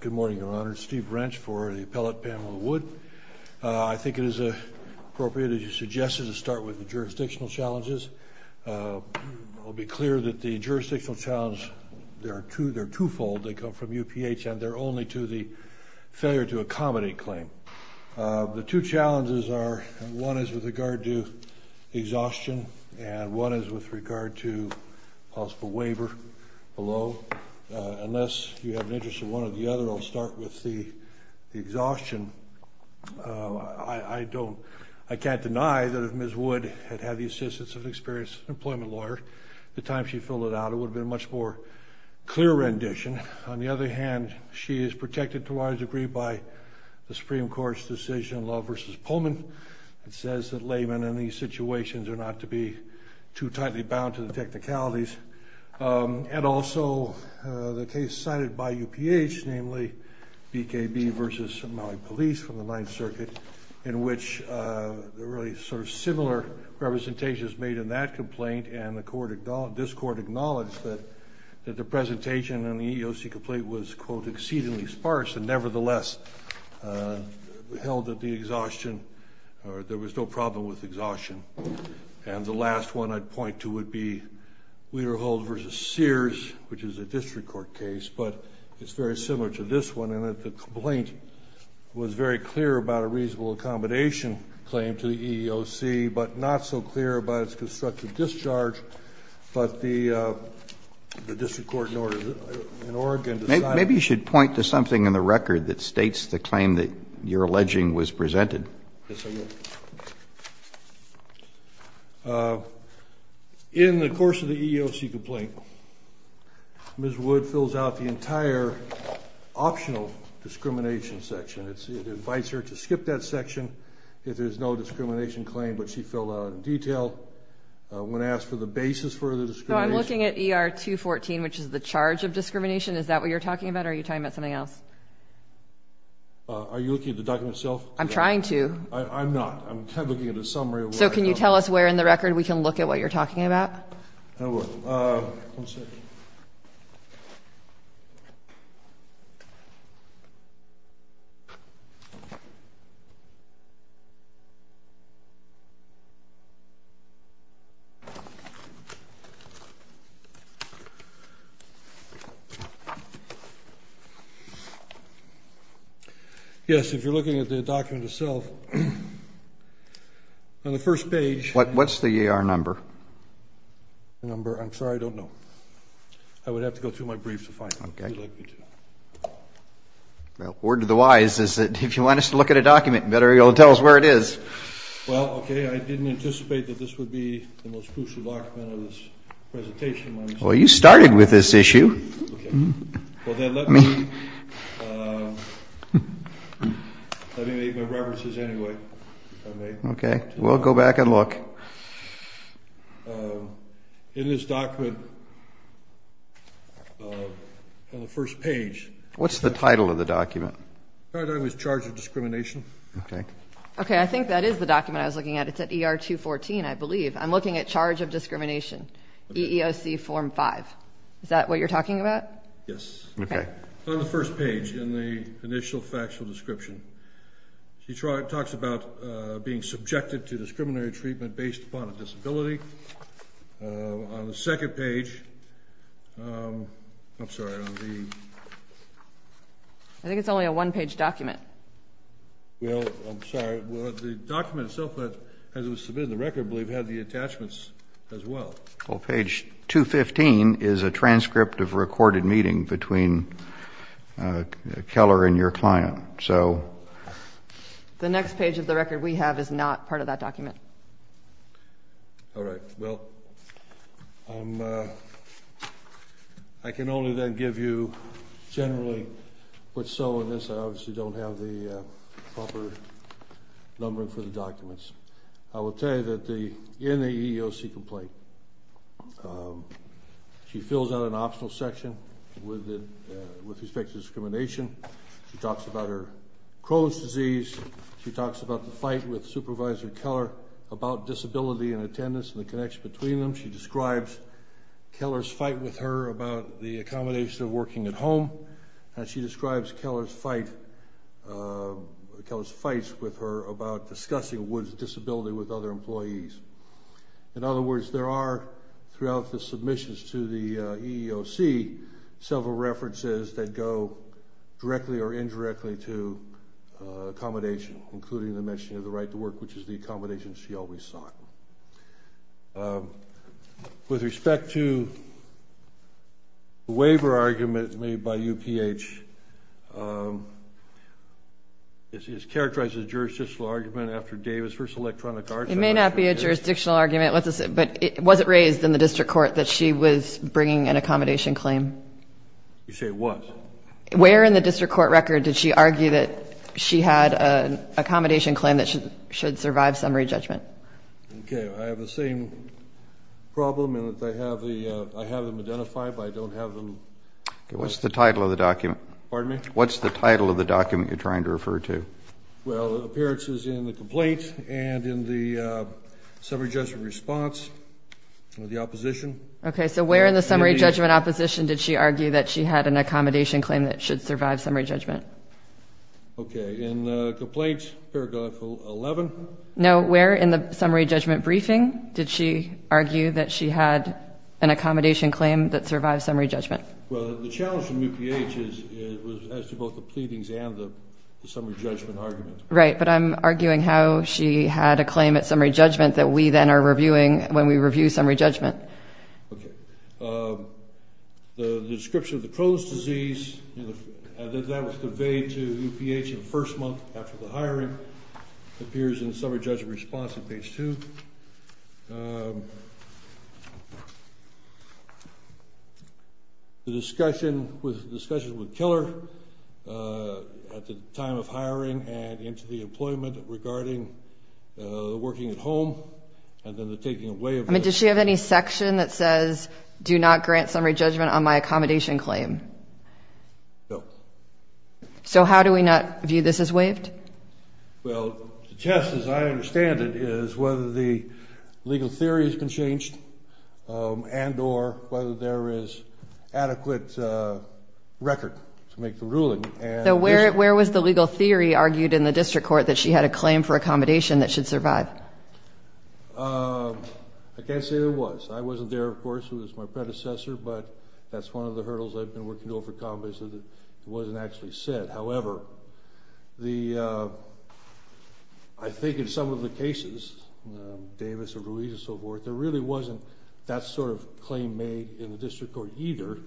Good morning, Your Honor. Steve Brench for the Appellate Pamela Wood. I think it is appropriate, as you suggested, to start with the jurisdictional challenges. I'll be clear that the jurisdictional challenges, they're twofold. They come from UPH and they're only to the failure to accommodate claim. The two challenges are, one is with regard to exhaustion and one is with regard to possible waiver below. Unless you have an interest in one or the other, I'll start with the exhaustion. I can't deny that if Ms. Wood had had the assistance of an experienced employment lawyer at the time she filled it out, it would have been a much more clear rendition. On the other hand, she is protected to a large degree by the Supreme Court's decision, Law v. Pullman, that says that laymen in these situations are not to be too tightly bound to the technicalities. And also the case cited by UPH, namely BKB v. Somali Police from the Ninth Circuit, in which there are really sort of similar representations made in that complaint. And this Court acknowledged that the presentation in the EEOC complaint was, quote, exceedingly sparse and nevertheless held that there was no problem with exhaustion. And the last one I'd point to would be Weterholt v. Sears, which is a district court case, but it's very similar to this one in that the complaint was very clear about a reasonable accommodation claim to the EEOC, but not so clear about its constructive discharge. But the district court in Oregon decided that. Maybe you should point to something in the record that states the claim that you're alleging was presented. Yes, I will. In the course of the EEOC complaint, Ms. Wood fills out the entire optional discrimination section. It invites her to skip that section if there's no discrimination claim, but she filled out in detail. When asked for the basis for the discrimination. So I'm looking at ER 214, which is the charge of discrimination. Is that what you're talking about, or are you talking about something else? Are you looking at the document itself? I'm trying to. I'm not. I'm kind of looking at a summary. So can you tell us where in the record we can look at what you're talking about? I will. One second. Yes, if you're looking at the document itself, on the first page. What's the ER number? The number, I'm sorry, I don't know. I would have to go through my briefs to find out. Okay. If you'd like me to. Well, word to the wise is that if you want us to look at a document, you better be able to tell us where it is. Well, okay. I didn't anticipate that this would be the most crucial document of this presentation. Well, you started with this issue. Okay. Well, then let me make my references anyway. Okay. We'll go back and look. In this document, on the first page. What's the title of the document? The title is charge of discrimination. Okay. Okay, I think that is the document I was looking at. It's at ER 214, I believe. I'm looking at charge of discrimination, EEOC Form 5. Is that what you're talking about? Yes. Okay. On the first page, in the initial factual description, he talks about being subjected to discriminatory treatment based upon a disability. On the second page, I'm sorry, on the... I think it's only a one-page document. Well, I'm sorry. The document itself, as it was submitted in the record, I believe, had the attachments as well. Well, page 215 is a transcript of a recorded meeting between Keller and your client. The next page of the record we have is not part of that document. All right. Well, I can only then give you generally what's so in this. I obviously don't have the proper number for the documents. I will tell you that in the EEOC complaint, she fills out an optional section with respect to discrimination. She talks about her Crohn's disease. She talks about the fight with Supervisor Keller about disability and attendance and the connection between them. She describes Keller's fight with her about the accommodation of working at home, and she describes Keller's fight with her about discussing Woods' disability with other employees. In other words, there are, throughout the submissions to the EEOC, several references that go directly or indirectly to accommodation, including the mention of the right to work, which is the accommodation she always sought. With respect to the waiver argument made by UPH, it's characterized as a jurisdictional argument after Davis v. Electronic Arts. It may not be a jurisdictional argument, but was it raised in the district court that she was bringing an accommodation claim? You say what? Where in the district court record did she argue that she had an accommodation claim that should survive summary judgment? Okay. I have the same problem in that I have them identified, but I don't have them ---- What's the title of the document? Pardon me? What's the title of the document you're trying to refer to? Well, appearances in the complaint and in the summary judgment response of the opposition. Okay. So where in the summary judgment opposition did she argue that she had an accommodation claim that should survive summary judgment? Okay. In the complaint, paragraph 11? No. Where in the summary judgment briefing did she argue that she had an accommodation claim that survived summary judgment? Well, the challenge from UPH is as to both the pleadings and the summary judgment argument. Right. But I'm arguing how she had a claim at summary judgment that we then are reviewing when we review summary judgment. Okay. The description of the Crohn's disease, that was conveyed to UPH in the first month after the hiring, appears in summary judgment response at page 2. The discussion with killer at the time of hiring and into the employment regarding the working at home and then the taking away of the ---- I mean, does she have any section that says, do not grant summary judgment on my accommodation claim? No. So how do we not view this as waived? Well, the test, as I understand it, is whether the legal theory has been changed and or whether there is adequate record to make the ruling. So where was the legal theory argued in the district court that she had a claim for accommodation that should survive? I can't say there was. I wasn't there, of course. It was my predecessor. But that's one of the hurdles I've been working to overcome is that it wasn't actually said. However, I think in some of the cases, Davis and Ruiz and so forth, there really wasn't that sort of claim made in the district court either.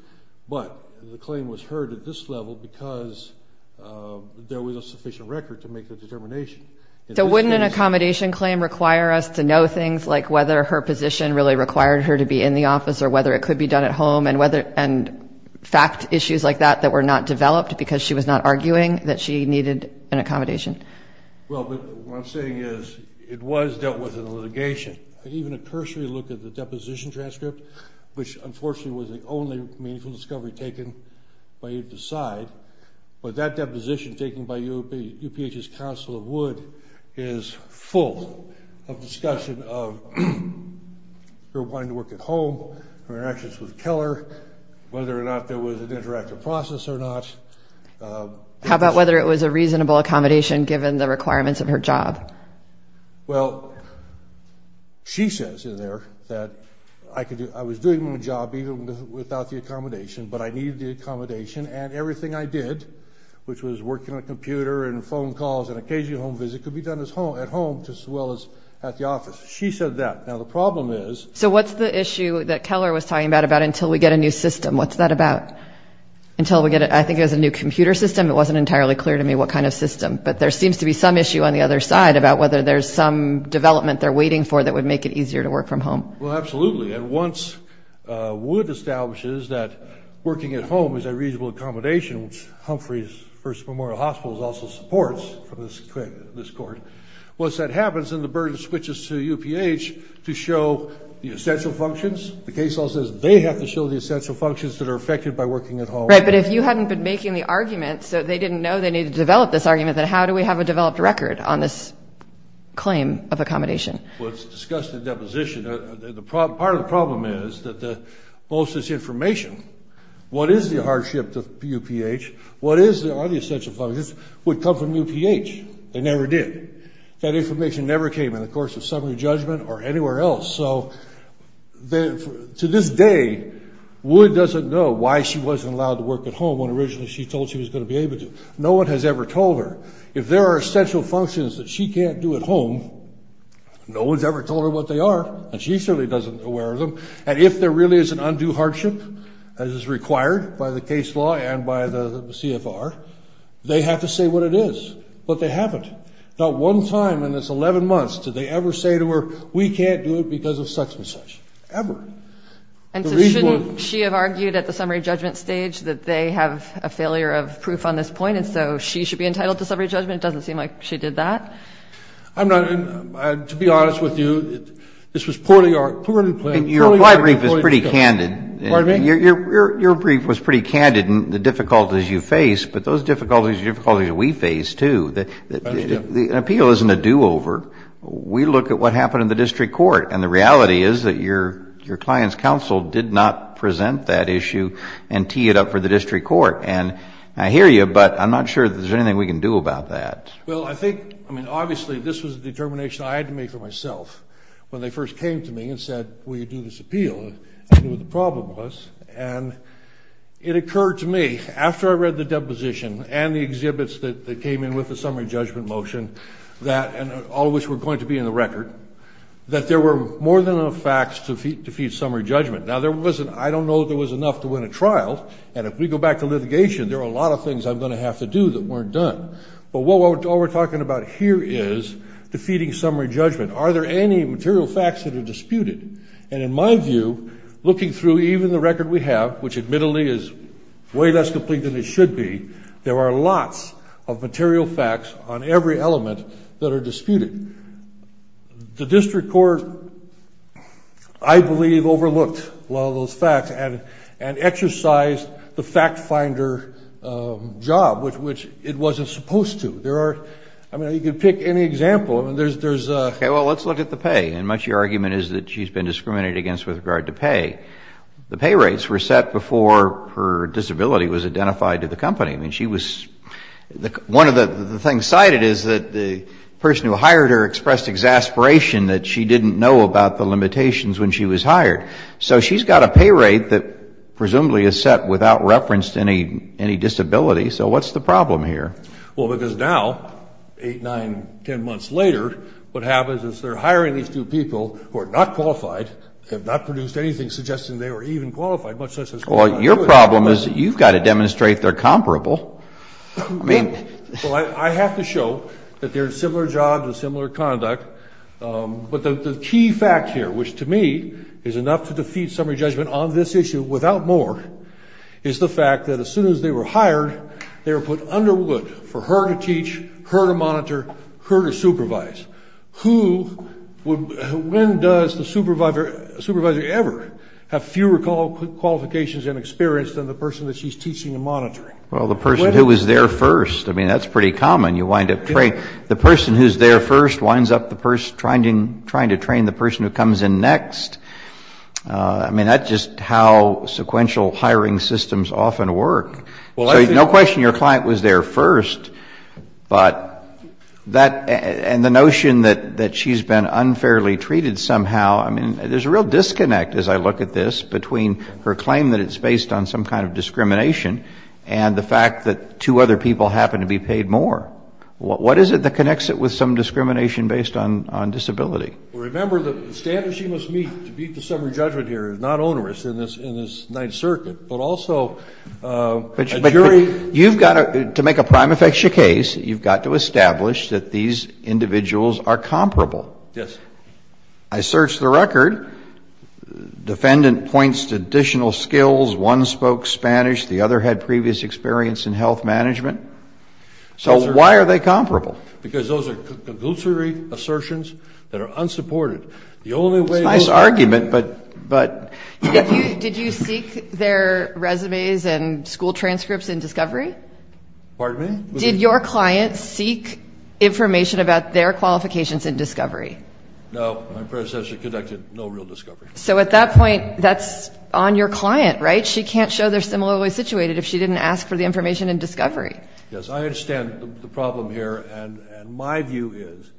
But the claim was heard at this level because there was a sufficient record to make the determination. So wouldn't an accommodation claim require us to know things like whether her position really required her to be in the office or whether it could be done at home and fact issues like that that were not developed because she was not arguing that she needed an accommodation? Well, what I'm saying is it was dealt with in the litigation. Even a cursory look at the deposition transcript, which unfortunately was the only meaningful discovery taken by either side, but that deposition taken by UPH's Council of Wood is full of discussion of her wanting to work at home, her interactions with Keller, whether or not there was an interactive process or not. How about whether it was a reasonable accommodation given the requirements of her job? Well, she says in there that I was doing my job even without the accommodation, but I needed the accommodation and everything I did, which was working on a computer and phone calls and occasional home visits, could be done at home as well as at the office. She said that. Now, the problem is... So what's the issue that Keller was talking about, about until we get a new system? What's that about? Until we get it, I think it was a new computer system. It wasn't entirely clear to me what kind of system. But there seems to be some issue on the other side about whether there's some development they're waiting for that would make it easier to work from home. Well, absolutely. And once Wood establishes that working at home is a reasonable accommodation, which Humphrey's First Memorial Hospital also supports for this court, once that happens and the burden switches to UPH to show the essential functions, the case law says they have to show the essential functions that are affected by working at home. Right, but if you hadn't been making the argument so they didn't know they needed to develop this argument, then how do we have a developed record on this claim of accommodation? Well, it's a disgusting deposition. Part of the problem is that most of this information, what is the hardship to UPH, what are the essential functions, would come from UPH. They never did. That information never came in the course of summary judgment or anywhere else. So to this day, Wood doesn't know why she wasn't allowed to work at home when originally she told she was going to be able to. No one has ever told her. If there are essential functions that she can't do at home, no one has ever told her what they are, and she certainly isn't aware of them. And if there really is an undue hardship as is required by the case law and by the CFR, they have to say what it is. But they haven't. Not one time in this 11 months did they ever say to her, we can't do it because of such and such, ever. And so shouldn't she have argued at the summary judgment stage that they have a failure of proof on this point, so she should be entitled to summary judgment? It doesn't seem like she did that. To be honest with you, this was poorly planned. Your brief was pretty candid. Pardon me? Your brief was pretty candid in the difficulties you face, but those difficulties are difficulties we face, too. An appeal isn't a do-over. We look at what happened in the district court, and the reality is that your client's counsel did not present that issue and tee it up for the district court. And I hear you, but I'm not sure if there's anything we can do about that. Well, I think, I mean, obviously this was a determination I had to make for myself when they first came to me and said, will you do this appeal? I knew what the problem was. And it occurred to me, after I read the deposition and the exhibits that came in with the summary judgment motion, and all of which were going to be in the record, that there were more than enough facts to feed summary judgment. Now, there wasn't, I don't know if there was enough to win a trial. And if we go back to litigation, there are a lot of things I'm going to have to do that weren't done. But all we're talking about here is defeating summary judgment. Are there any material facts that are disputed? And in my view, looking through even the record we have, which admittedly is way less complete than it should be, there are lots of material facts on every element that are disputed. The district court, I believe, overlooked a lot of those facts and exercised the fact-finder job, which it wasn't supposed to. There are, I mean, you can pick any example. I mean, there's a... Okay. Well, let's look at the pay. And much of your argument is that she's been discriminated against with regard to pay. The pay rates were set before her disability was identified to the company. I mean, she was... One of the things cited is that the person who hired her expressed exasperation that she didn't know about the limitations when she was hired. So she's got a pay rate that presumably is set without reference to any disability. So what's the problem here? Well, because now, eight, nine, ten months later, what happens is they're hiring these two people who are not qualified, have not produced anything suggesting they were even qualified, much less... Well, your problem is you've got to demonstrate they're comparable. I mean... Well, I have to show that they're in similar jobs and similar conduct, but the key fact here, which to me is enough to defeat summary judgment on this issue without more, is the fact that as soon as they were hired, they were put under wood for her to teach, her to monitor, her to supervise. When does the supervisor ever have fewer qualifications and experience than the person that she's teaching and monitoring? Well, the person who was there first. I mean, that's pretty common. You wind up training... The person who's there first winds up trying to train the person who comes in next. I mean, that's just how sequential hiring systems often work. So no question your client was there first, but that... The notion that she's been unfairly treated somehow, I mean, there's a real disconnect as I look at this between her claim that it's based on some kind of discrimination and the fact that two other people happen to be paid more. What is it that connects it with some discrimination based on disability? Remember the standards she must meet to beat the summary judgment here is not onerous in this Ninth Circuit, but also a jury... Yes. I searched the record. Defendant points to additional skills. One spoke Spanish. The other had previous experience in health management. So why are they comparable? Because those are conglutinary assertions that are unsupported. The only way... It's a nice argument, but... Did you seek their resumes and school transcripts in discovery? Pardon me? Did your client seek information about their qualifications in discovery? No. My predecessor conducted no real discovery. So at that point, that's on your client, right? She can't show they're similarly situated if she didn't ask for the information in discovery. Yes. I understand the problem here, and my view is,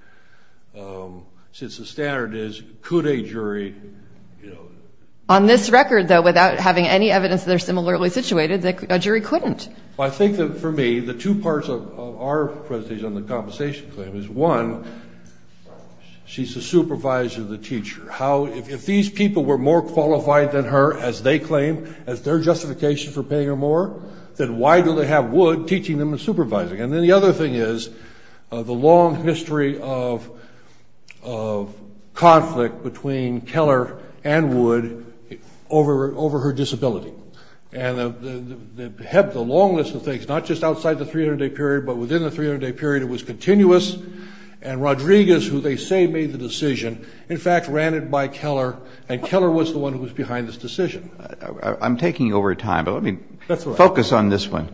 since the standard is, could a jury... On this record, though, without having any evidence that they're similarly situated, a jury couldn't. I think that, for me, the two parts of our presentation on the compensation claim is, one, she's the supervisor, the teacher. If these people were more qualified than her, as they claim, as their justification for paying her more, then why do they have Wood teaching them and supervising? And then the other thing is the long history of conflict between Keller and Wood over her disability. And the long list of things, not just outside the 300-day period, but within the 300-day period, it was continuous. And Rodriguez, who they say made the decision, in fact ran it by Keller, and Keller was the one who was behind this decision. I'm taking over time, but let me focus on this one.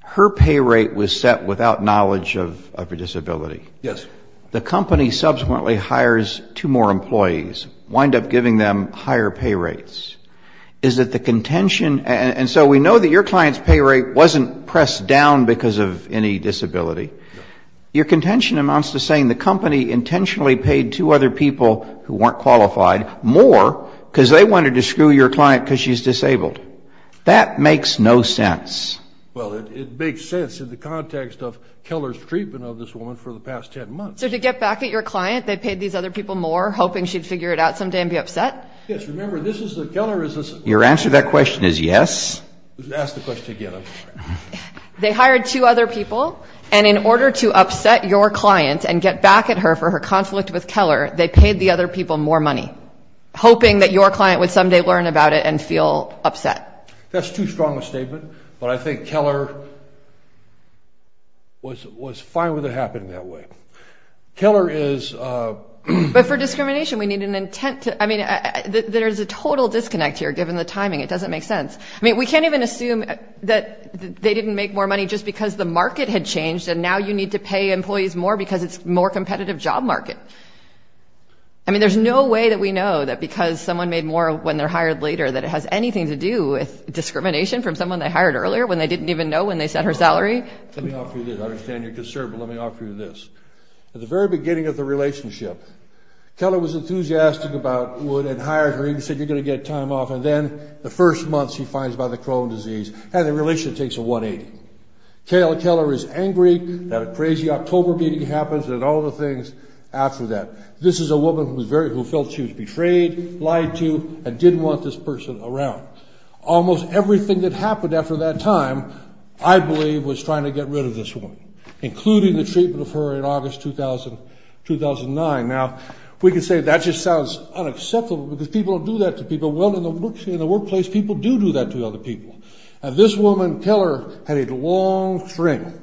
Her pay rate was set without knowledge of her disability. Yes. The company subsequently hires two more employees, wind up giving them higher pay rates. Is it the contention? And so we know that your client's pay rate wasn't pressed down because of any disability. Your contention amounts to saying the company intentionally paid two other people who weren't qualified more because they wanted to screw your client because she's disabled. That makes no sense. Well, it makes sense in the context of Keller's treatment of this woman for the past 10 months. So to get back at your client, they paid these other people more, hoping she'd figure it out someday and be upset? Yes. Remember, this is the – Keller is a – Your answer to that question is yes. Ask the question again. They hired two other people, and in order to upset your client and get back at her for her conflict with Keller, they paid the other people more money, hoping that your client would someday learn about it and feel upset. That's too strong a statement, but I think Keller was fine with it happening that way. Keller is – But for discrimination, we need an intent to – I mean, there's a total disconnect here, given the timing. It doesn't make sense. I mean, we can't even assume that they didn't make more money just because the market had changed and now you need to pay employees more because it's a more competitive job market. I mean, there's no way that we know that because someone made more when they're hired later that it has anything to do with discrimination from someone they hired earlier when they didn't even know when they set her salary. Let me offer you this. I understand you're concerned, but let me offer you this. At the very beginning of the relationship, Keller was enthusiastic about Wood and hired her. He said, you're going to get time off, and then the first month she finds out about the Crohn's disease, and the relationship takes a 180. Keller is angry that a crazy October meeting happens and all the things after that. This is a woman who felt she was betrayed, lied to, and didn't want this person around. Almost everything that happened after that time, I believe, was trying to get rid of this woman, including the treatment of her in August 2009. Now, we can say that just sounds unacceptable because people don't do that to people. Well, in the workplace, people do do that to other people, and this woman, Keller, had a long string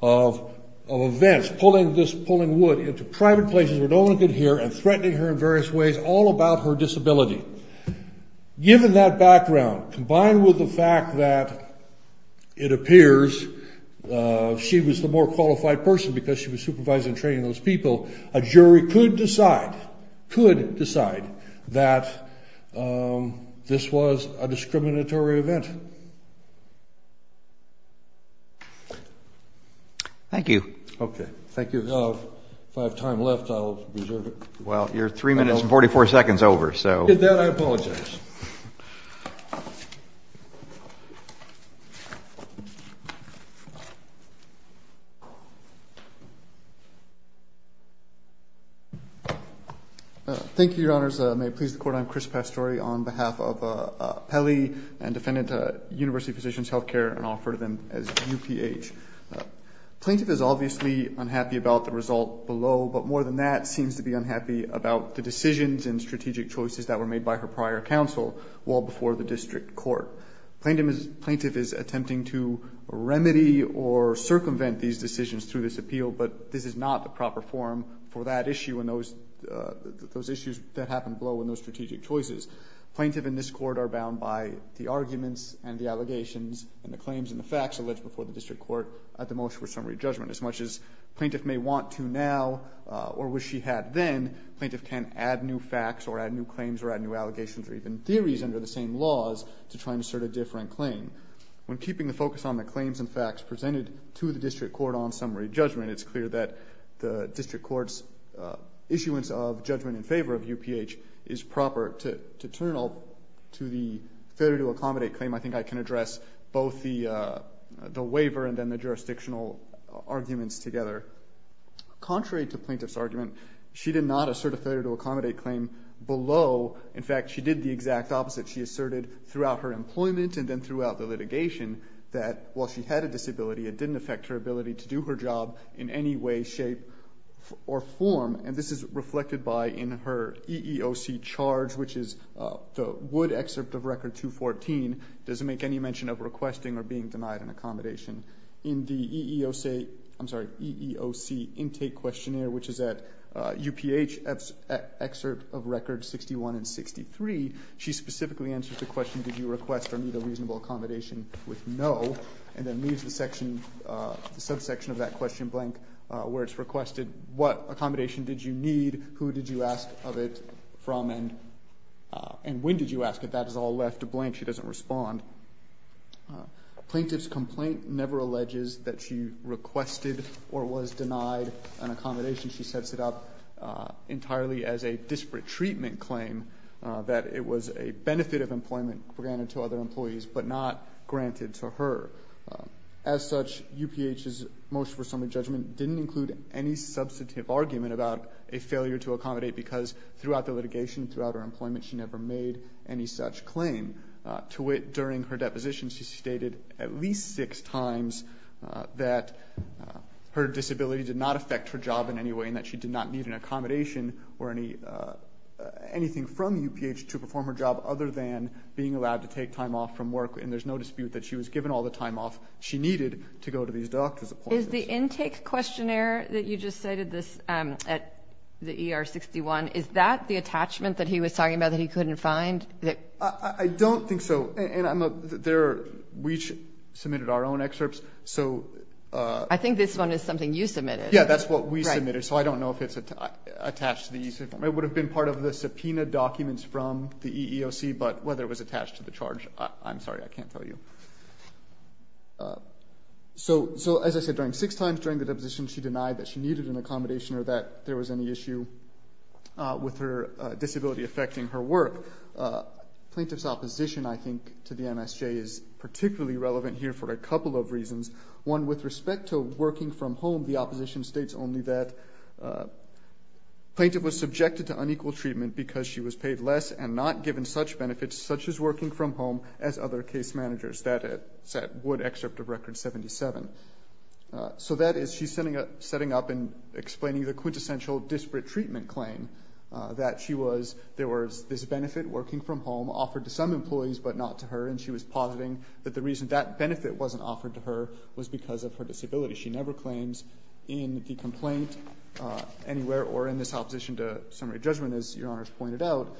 of events, pulling Wood into private places where no one could hear and threatening her in various ways all about her disability. Given that background, combined with the fact that it appears she was the more qualified person because she was supervising and training those people, a jury could decide that this was a discriminatory event. Thank you. Okay, thank you. If I have time left, I'll reserve it. Well, you're three minutes and 44 seconds over. With that, I apologize. Thank you, Your Honors. May it please the Court, I'm Chris Pastore on behalf of Pelley and defendant at University Physicians Health Care, and I'll refer to them as UPH. Plaintiff is obviously unhappy about the result below, but more than that, seems to be unhappy about the decisions and strategic choices that were made by her prior counsel well before the district court. Plaintiff is attempting to remedy or circumvent these decisions through this appeal, but this is not the proper forum for that issue and those issues that happened below in those strategic choices. Plaintiff and this Court are bound by the arguments and the allegations and the claims and the facts alleged before the district court at the motion for summary judgment. As much as plaintiff may want to now or wish she had then, plaintiff can add new facts or add new claims or add new allegations or even theories under the same laws to try and assert a different claim. When keeping the focus on the claims and facts presented to the district court on summary judgment, it's clear that the district court's issuance of judgment in favor of UPH is proper to turn to the failure to accommodate claim. I think I can address both the waiver and then the jurisdictional arguments together. Contrary to plaintiff's argument, she did not assert a failure to accommodate claim below. In fact, she did the exact opposite. She asserted throughout her employment and then throughout the litigation that while she had a disability, it didn't affect her ability to do her job in any way, shape, or form, and this is reflected by in her EEOC charge, which is the Wood excerpt of Record 214, doesn't make any mention of requesting or being denied an accommodation. In the EEOC intake questionnaire, which is at UPH excerpt of Record 61 and 63, she specifically answers the question, did you request or need a reasonable accommodation with no, and then leaves the subsection of that question blank where it's requested, what accommodation did you need, who did you ask of it from, and when did you ask it. That is all left blank. She doesn't respond. Plaintiff's complaint never alleges that she requested or was denied an accommodation. She sets it up entirely as a disparate treatment claim that it was a benefit of employment granted to other employees but not granted to her. As such, UPH's motion for summary judgment didn't include any substantive argument about a failure to accommodate because throughout the litigation, throughout her employment, she never made any such claim. To wit, during her deposition, she stated at least six times that her disability did not affect her job in any way and that she did not need an accommodation or anything from UPH to perform her job other than being allowed to take time off from work, and there's no dispute that she was given all the time off she needed to go to these doctor's appointments. Is the intake questionnaire that you just cited at the ER-61, is that the attachment that he was talking about that he couldn't find? I don't think so. We submitted our own excerpts. I think this one is something you submitted. Yeah, that's what we submitted, so I don't know if it's attached to the EEOC. It would have been part of the subpoena documents from the EEOC, but whether it was attached to the charge, I'm sorry, I can't tell you. So as I said, during six times during the deposition, she denied that she needed an accommodation or that there was any issue with her disability affecting her work. Plaintiff's opposition, I think, to the MSJ is particularly relevant here for a couple of reasons. One, with respect to working from home, the opposition states only that plaintiff was subjected to unequal treatment because she was paid less and not given such benefits, such as working from home, as other case managers. That's that Wood excerpt of Record 77. So that is, she's setting up and explaining the quintessential disparate treatment claim, that there was this benefit, working from home, offered to some employees but not to her, and she was positing that the reason that benefit wasn't offered to her was because of her disability. She never claims in the complaint anywhere or in this opposition to summary judgment, as Your Honor has pointed out,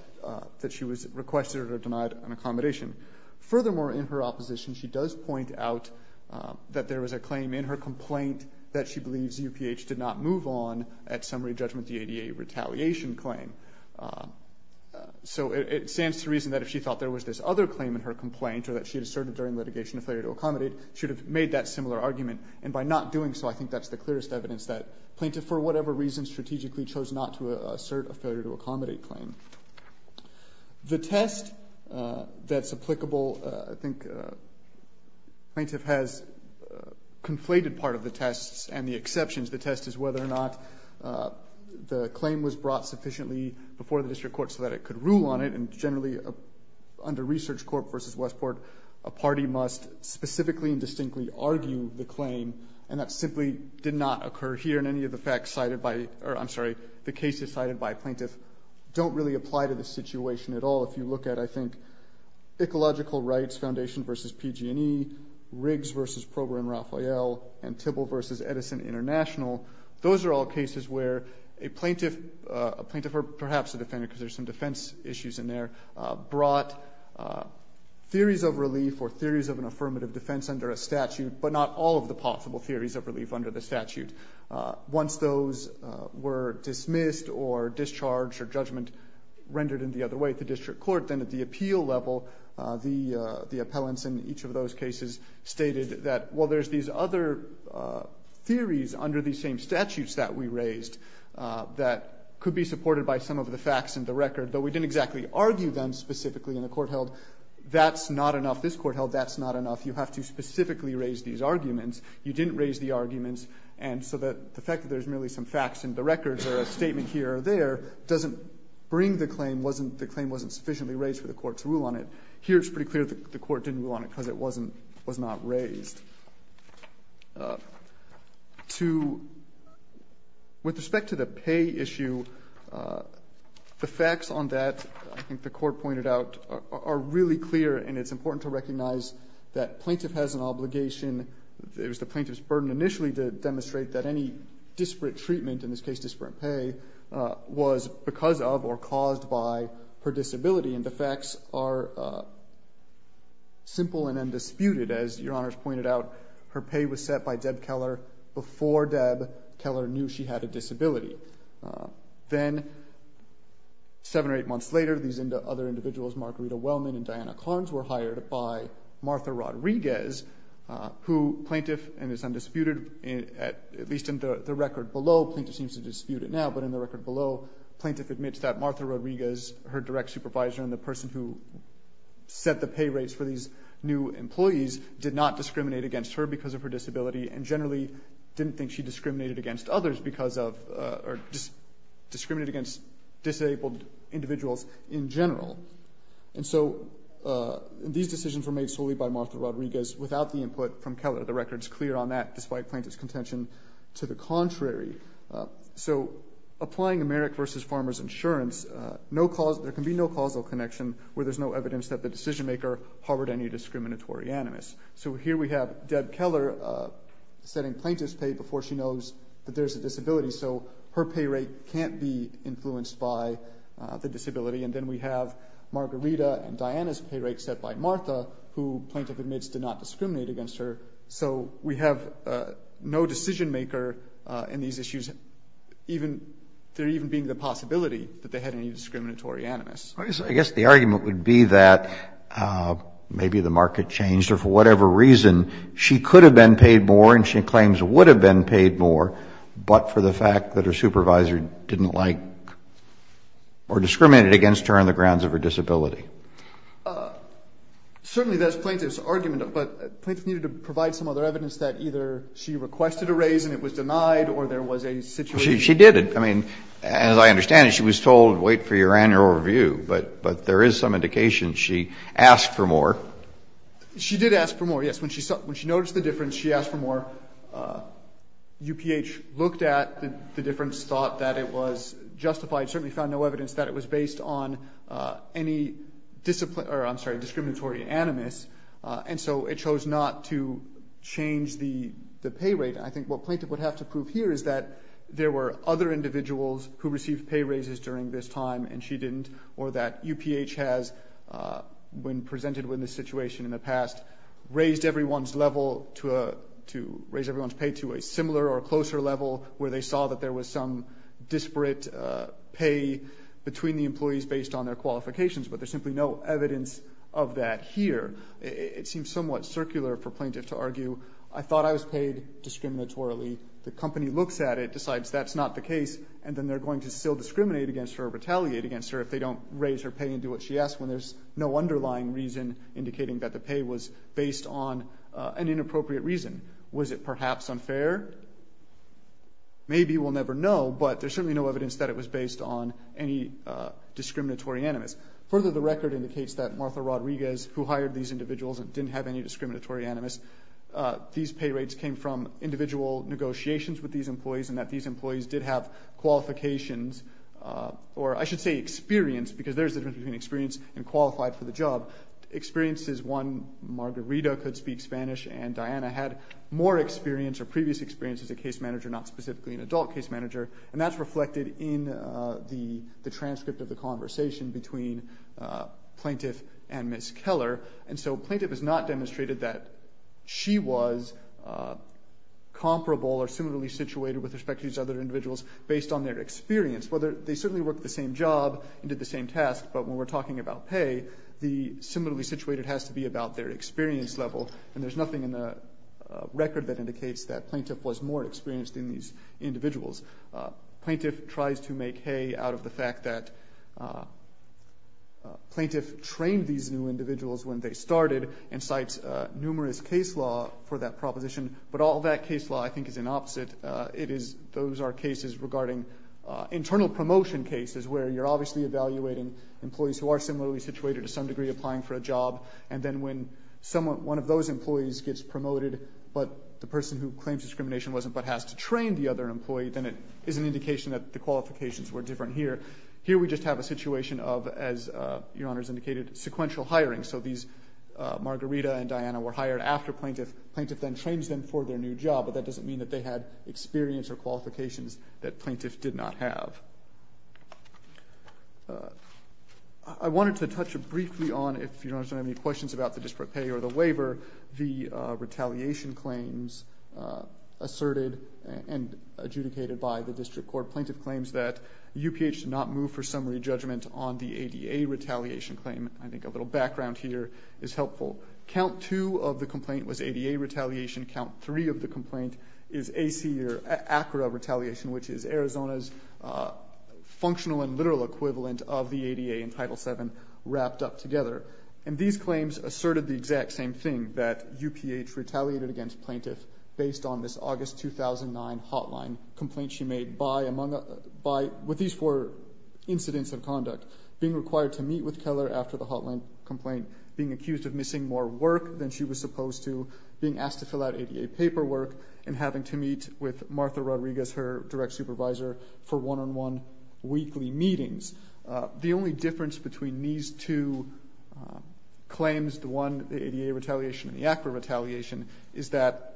that she was requested or denied an accommodation. Furthermore, in her opposition, she does point out that there was a claim in her complaint that she believes UPH did not move on at summary judgment the ADA retaliation claim. So it stands to reason that if she thought there was this other claim in her complaint or that she had asserted during litigation a failure to accommodate, she would have made that similar argument. And by not doing so, I think that's the clearest evidence that plaintiff, for whatever reason, strategically chose not to assert a failure to accommodate claim. The test that's applicable, I think plaintiff has conflated part of the tests and the exceptions. The test is whether or not the claim was brought sufficiently before the district court so that it could rule on it. And generally, under research court versus Westport, a party must specifically and distinctly argue the claim, and that simply did not occur here. And any of the facts cited by, or I'm sorry, the cases cited by plaintiff don't really apply to the situation at all. If you look at, I think, Ecological Rights Foundation versus PG&E, Riggs versus Prober & Raphael, and Tibble versus Edison International, those are all cases where a plaintiff, or perhaps a defendant because there's some defense issues in there, brought theories of relief or theories of an affirmative defense under a statute, but not all of the possible theories of relief under the statute. Once those were dismissed or discharged or judgment rendered in the other way at the district court, then at the appeal level, the appellants in each of those cases stated that, well, there's these other theories under these same statutes that we raised that could be supported by some of the facts in the record, but we didn't exactly argue them specifically in the court held. That's not enough. This court held that's not enough. You have to specifically raise these arguments. You didn't raise the arguments, and so the fact that there's merely some facts in the records or a statement here or there doesn't bring the claim. The claim wasn't sufficiently raised for the court to rule on it. Here it's pretty clear the court didn't rule on it because it was not raised. With respect to the pay issue, the facts on that, I think the court pointed out, are really clear, and it's important to recognize that plaintiff has an obligation. It was the plaintiff's burden initially to demonstrate that any disparate treatment, in this case disparate pay, was because of or caused by her disability, and the facts are simple and undisputed. As Your Honors pointed out, her pay was set by Deb Keller before Deb Keller knew she had a disability. Then seven or eight months later, these other individuals, Margarita Wellman and Diana Carnes, were hired by Martha Rodriguez, who plaintiff, and it's undisputed, at least in the record below, plaintiff seems to dispute it now, but in the record below, plaintiff admits that Martha Rodriguez, her direct supervisor, and the person who set the pay rates for these new employees, did not discriminate against her because of her disability, and generally didn't think she discriminated against others because of, or discriminated against disabled individuals in general. And so these decisions were made solely by Martha Rodriguez without the input from Keller. The record's clear on that, despite plaintiff's contention to the contrary. So applying a merit versus farmer's insurance, there can be no causal connection where there's no evidence that the decision maker harbored any discriminatory animus. So here we have Deb Keller setting plaintiff's pay before she knows that there's a disability, so her pay rate can't be influenced by the disability, and then we have Margarita and Diana's pay rate set by Martha, who plaintiff admits did not discriminate against her, so we have no decision maker in these issues, there even being the possibility that they had any discriminatory animus. I guess the argument would be that maybe the market changed, or for whatever reason she could have been paid more and she claims would have been paid more, but for the fact that her supervisor didn't like, or discriminated against her on the grounds of her disability. Certainly that's plaintiff's argument, but plaintiff needed to provide some other evidence that either she requested a raise and it was denied or there was a situation. She did. I mean, as I understand it, she was told wait for your annual review, but there is some indication she asked for more. She did ask for more, yes. When she noticed the difference, she asked for more. UPH looked at the difference, thought that it was justified, certainly found no evidence that it was based on any discriminatory animus, and so it chose not to change the pay rate. I think what plaintiff would have to prove here is that there were other individuals who received pay raises during this time and she didn't, or that UPH has, when presented with this situation in the past, raised everyone's pay to a similar or closer level where they saw that there was some disparate pay between the employees based on their qualifications, but there's simply no evidence of that here. It seems somewhat circular for plaintiff to argue, I thought I was paid discriminatorily. The company looks at it, decides that's not the case, and then they're going to still discriminate against her or retaliate against her if they don't raise her pay and do what she asked when there's no underlying reason indicating that the pay was based on an inappropriate reason. Was it perhaps unfair? Maybe, we'll never know, but there's certainly no evidence that it was based on any discriminatory animus. Further, the record indicates that Martha Rodriguez, who hired these individuals and didn't have any discriminatory animus, these pay rates came from individual negotiations with these employees and that these employees did have qualifications, or I should say experience, because there's a difference between experience and qualified for the job. Experience is one, Margarita could speak Spanish and Diana had more previous experience as a case manager, not specifically an adult case manager, and that's reflected in the transcript of the conversation between plaintiff and Ms. Keller, and so plaintiff has not demonstrated that she was comparable or similarly situated with respect to these other individuals based on their experience. They certainly worked the same job and did the same task, but when we're talking about pay, the similarly situated has to be about their experience level and there's nothing in the record that indicates that plaintiff was more experienced than these individuals. Plaintiff tries to make hay out of the fact that plaintiff trained these new individuals when they started and cites numerous case law for that proposition, but all that case law I think is an opposite. Those are cases regarding internal promotion cases where you're obviously evaluating employees who are similarly situated to some degree applying for a job, and then when one of those employees gets promoted but the person who claims discrimination wasn't, but has to train the other employee, then it is an indication that the qualifications were different here. Here we just have a situation of, as Your Honor has indicated, sequential hiring, so Margarita and Diana were hired after plaintiff. Plaintiff then trains them for their new job, but that doesn't mean that they had experience or qualifications that plaintiff did not have. I wanted to touch briefly on, if Your Honor has any questions about the district pay or the waiver, the retaliation claims asserted and adjudicated by the district court. Plaintiff claims that UPH did not move for summary judgment on the ADA retaliation claim. I think a little background here is helpful. Count two of the complaint was ADA retaliation. Count three of the complaint is AC or ACRA retaliation, which is Arizona's functional and literal equivalent of the ADA in Title VII wrapped up together. These claims asserted the exact same thing, that UPH retaliated against plaintiff based on this August 2009 hotline complaint she made with these four incidents of conduct, being required to meet with Keller after the hotline complaint, being accused of missing more work than she was supposed to, being asked to fill out ADA paperwork, and having to meet with Martha Rodriguez, her direct supervisor, for one-on-one weekly meetings. The only difference between these two claims, the one, the ADA retaliation and the ACRA retaliation, is that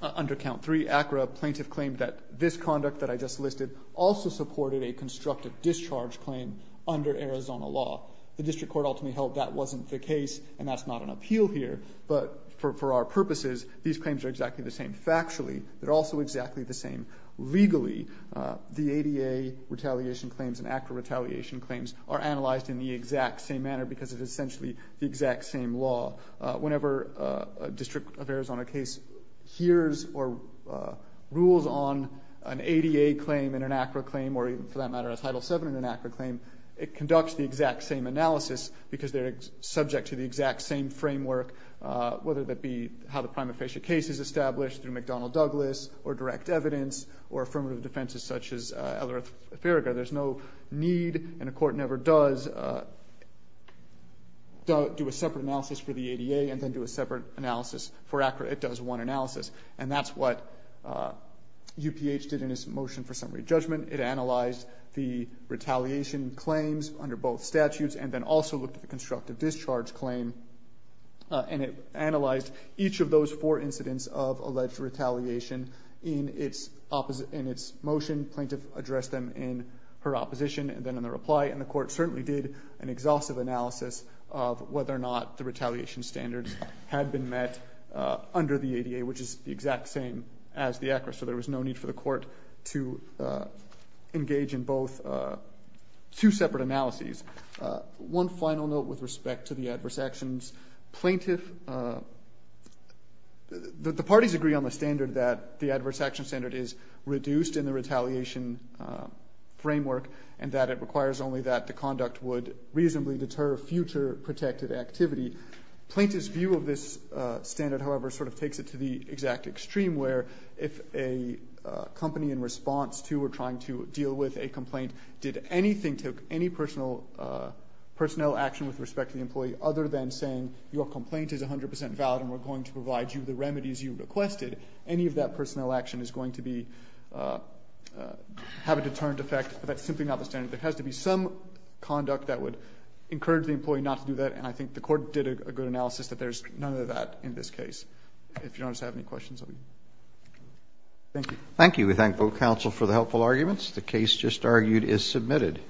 under count three, ACRA plaintiff claimed that this conduct that I just listed also supported a constructive discharge claim under Arizona law. The district court ultimately held that wasn't the case and that's not an appeal here, but for our purposes these claims are exactly the same factually. They're also exactly the same legally. The ADA retaliation claims and ACRA retaliation claims are analyzed in the exact same manner because it's essentially the exact same law. Whenever a district of Arizona case hears or rules on an ADA claim and an ACRA claim, or even for that matter a Title VII and an ACRA claim, it conducts the exact same analysis because they're subject to the exact same framework, whether that be how the prima facie case is established through McDonnell-Douglas or direct evidence or affirmative defenses such as Ellerith-Ferriga. There's no need, and a court never does, do a separate analysis for the ADA and then do a separate analysis for ACRA. It does one analysis, and that's what UPH did in its motion for summary judgment. It analyzed the retaliation claims under both statutes and then also looked at the constructive discharge claim, and it analyzed each of those four incidents of alleged retaliation in its motion. Plaintiff addressed them in her opposition and then in the reply, and the court certainly did an exhaustive analysis of whether or not the retaliation standards had been met under the ADA, which is the exact same as the ACRA. So there was no need for the court to engage in both two separate analyses One final note with respect to the adverse actions. Plaintiff... The parties agree on the standard that the adverse action standard is reduced in the retaliation framework and that it requires only that the conduct would reasonably deter future protected activity. Plaintiff's view of this standard, however, sort of takes it to the exact extreme where if a company in response to or trying to deal with a complaint did anything to any personnel action with respect to the employee other than saying your complaint is 100% valid and we're going to provide you the remedies you requested, any of that personnel action is going to be... have a deterrent effect. That's simply not the standard. There has to be some conduct that would encourage the employee not to do that, and I think the court did a good analysis that there's none of that in this case. If you don't have any questions, I'll be... Thank you. Thank you. We thank both counsel for the helpful arguments. The case just argued is submitted.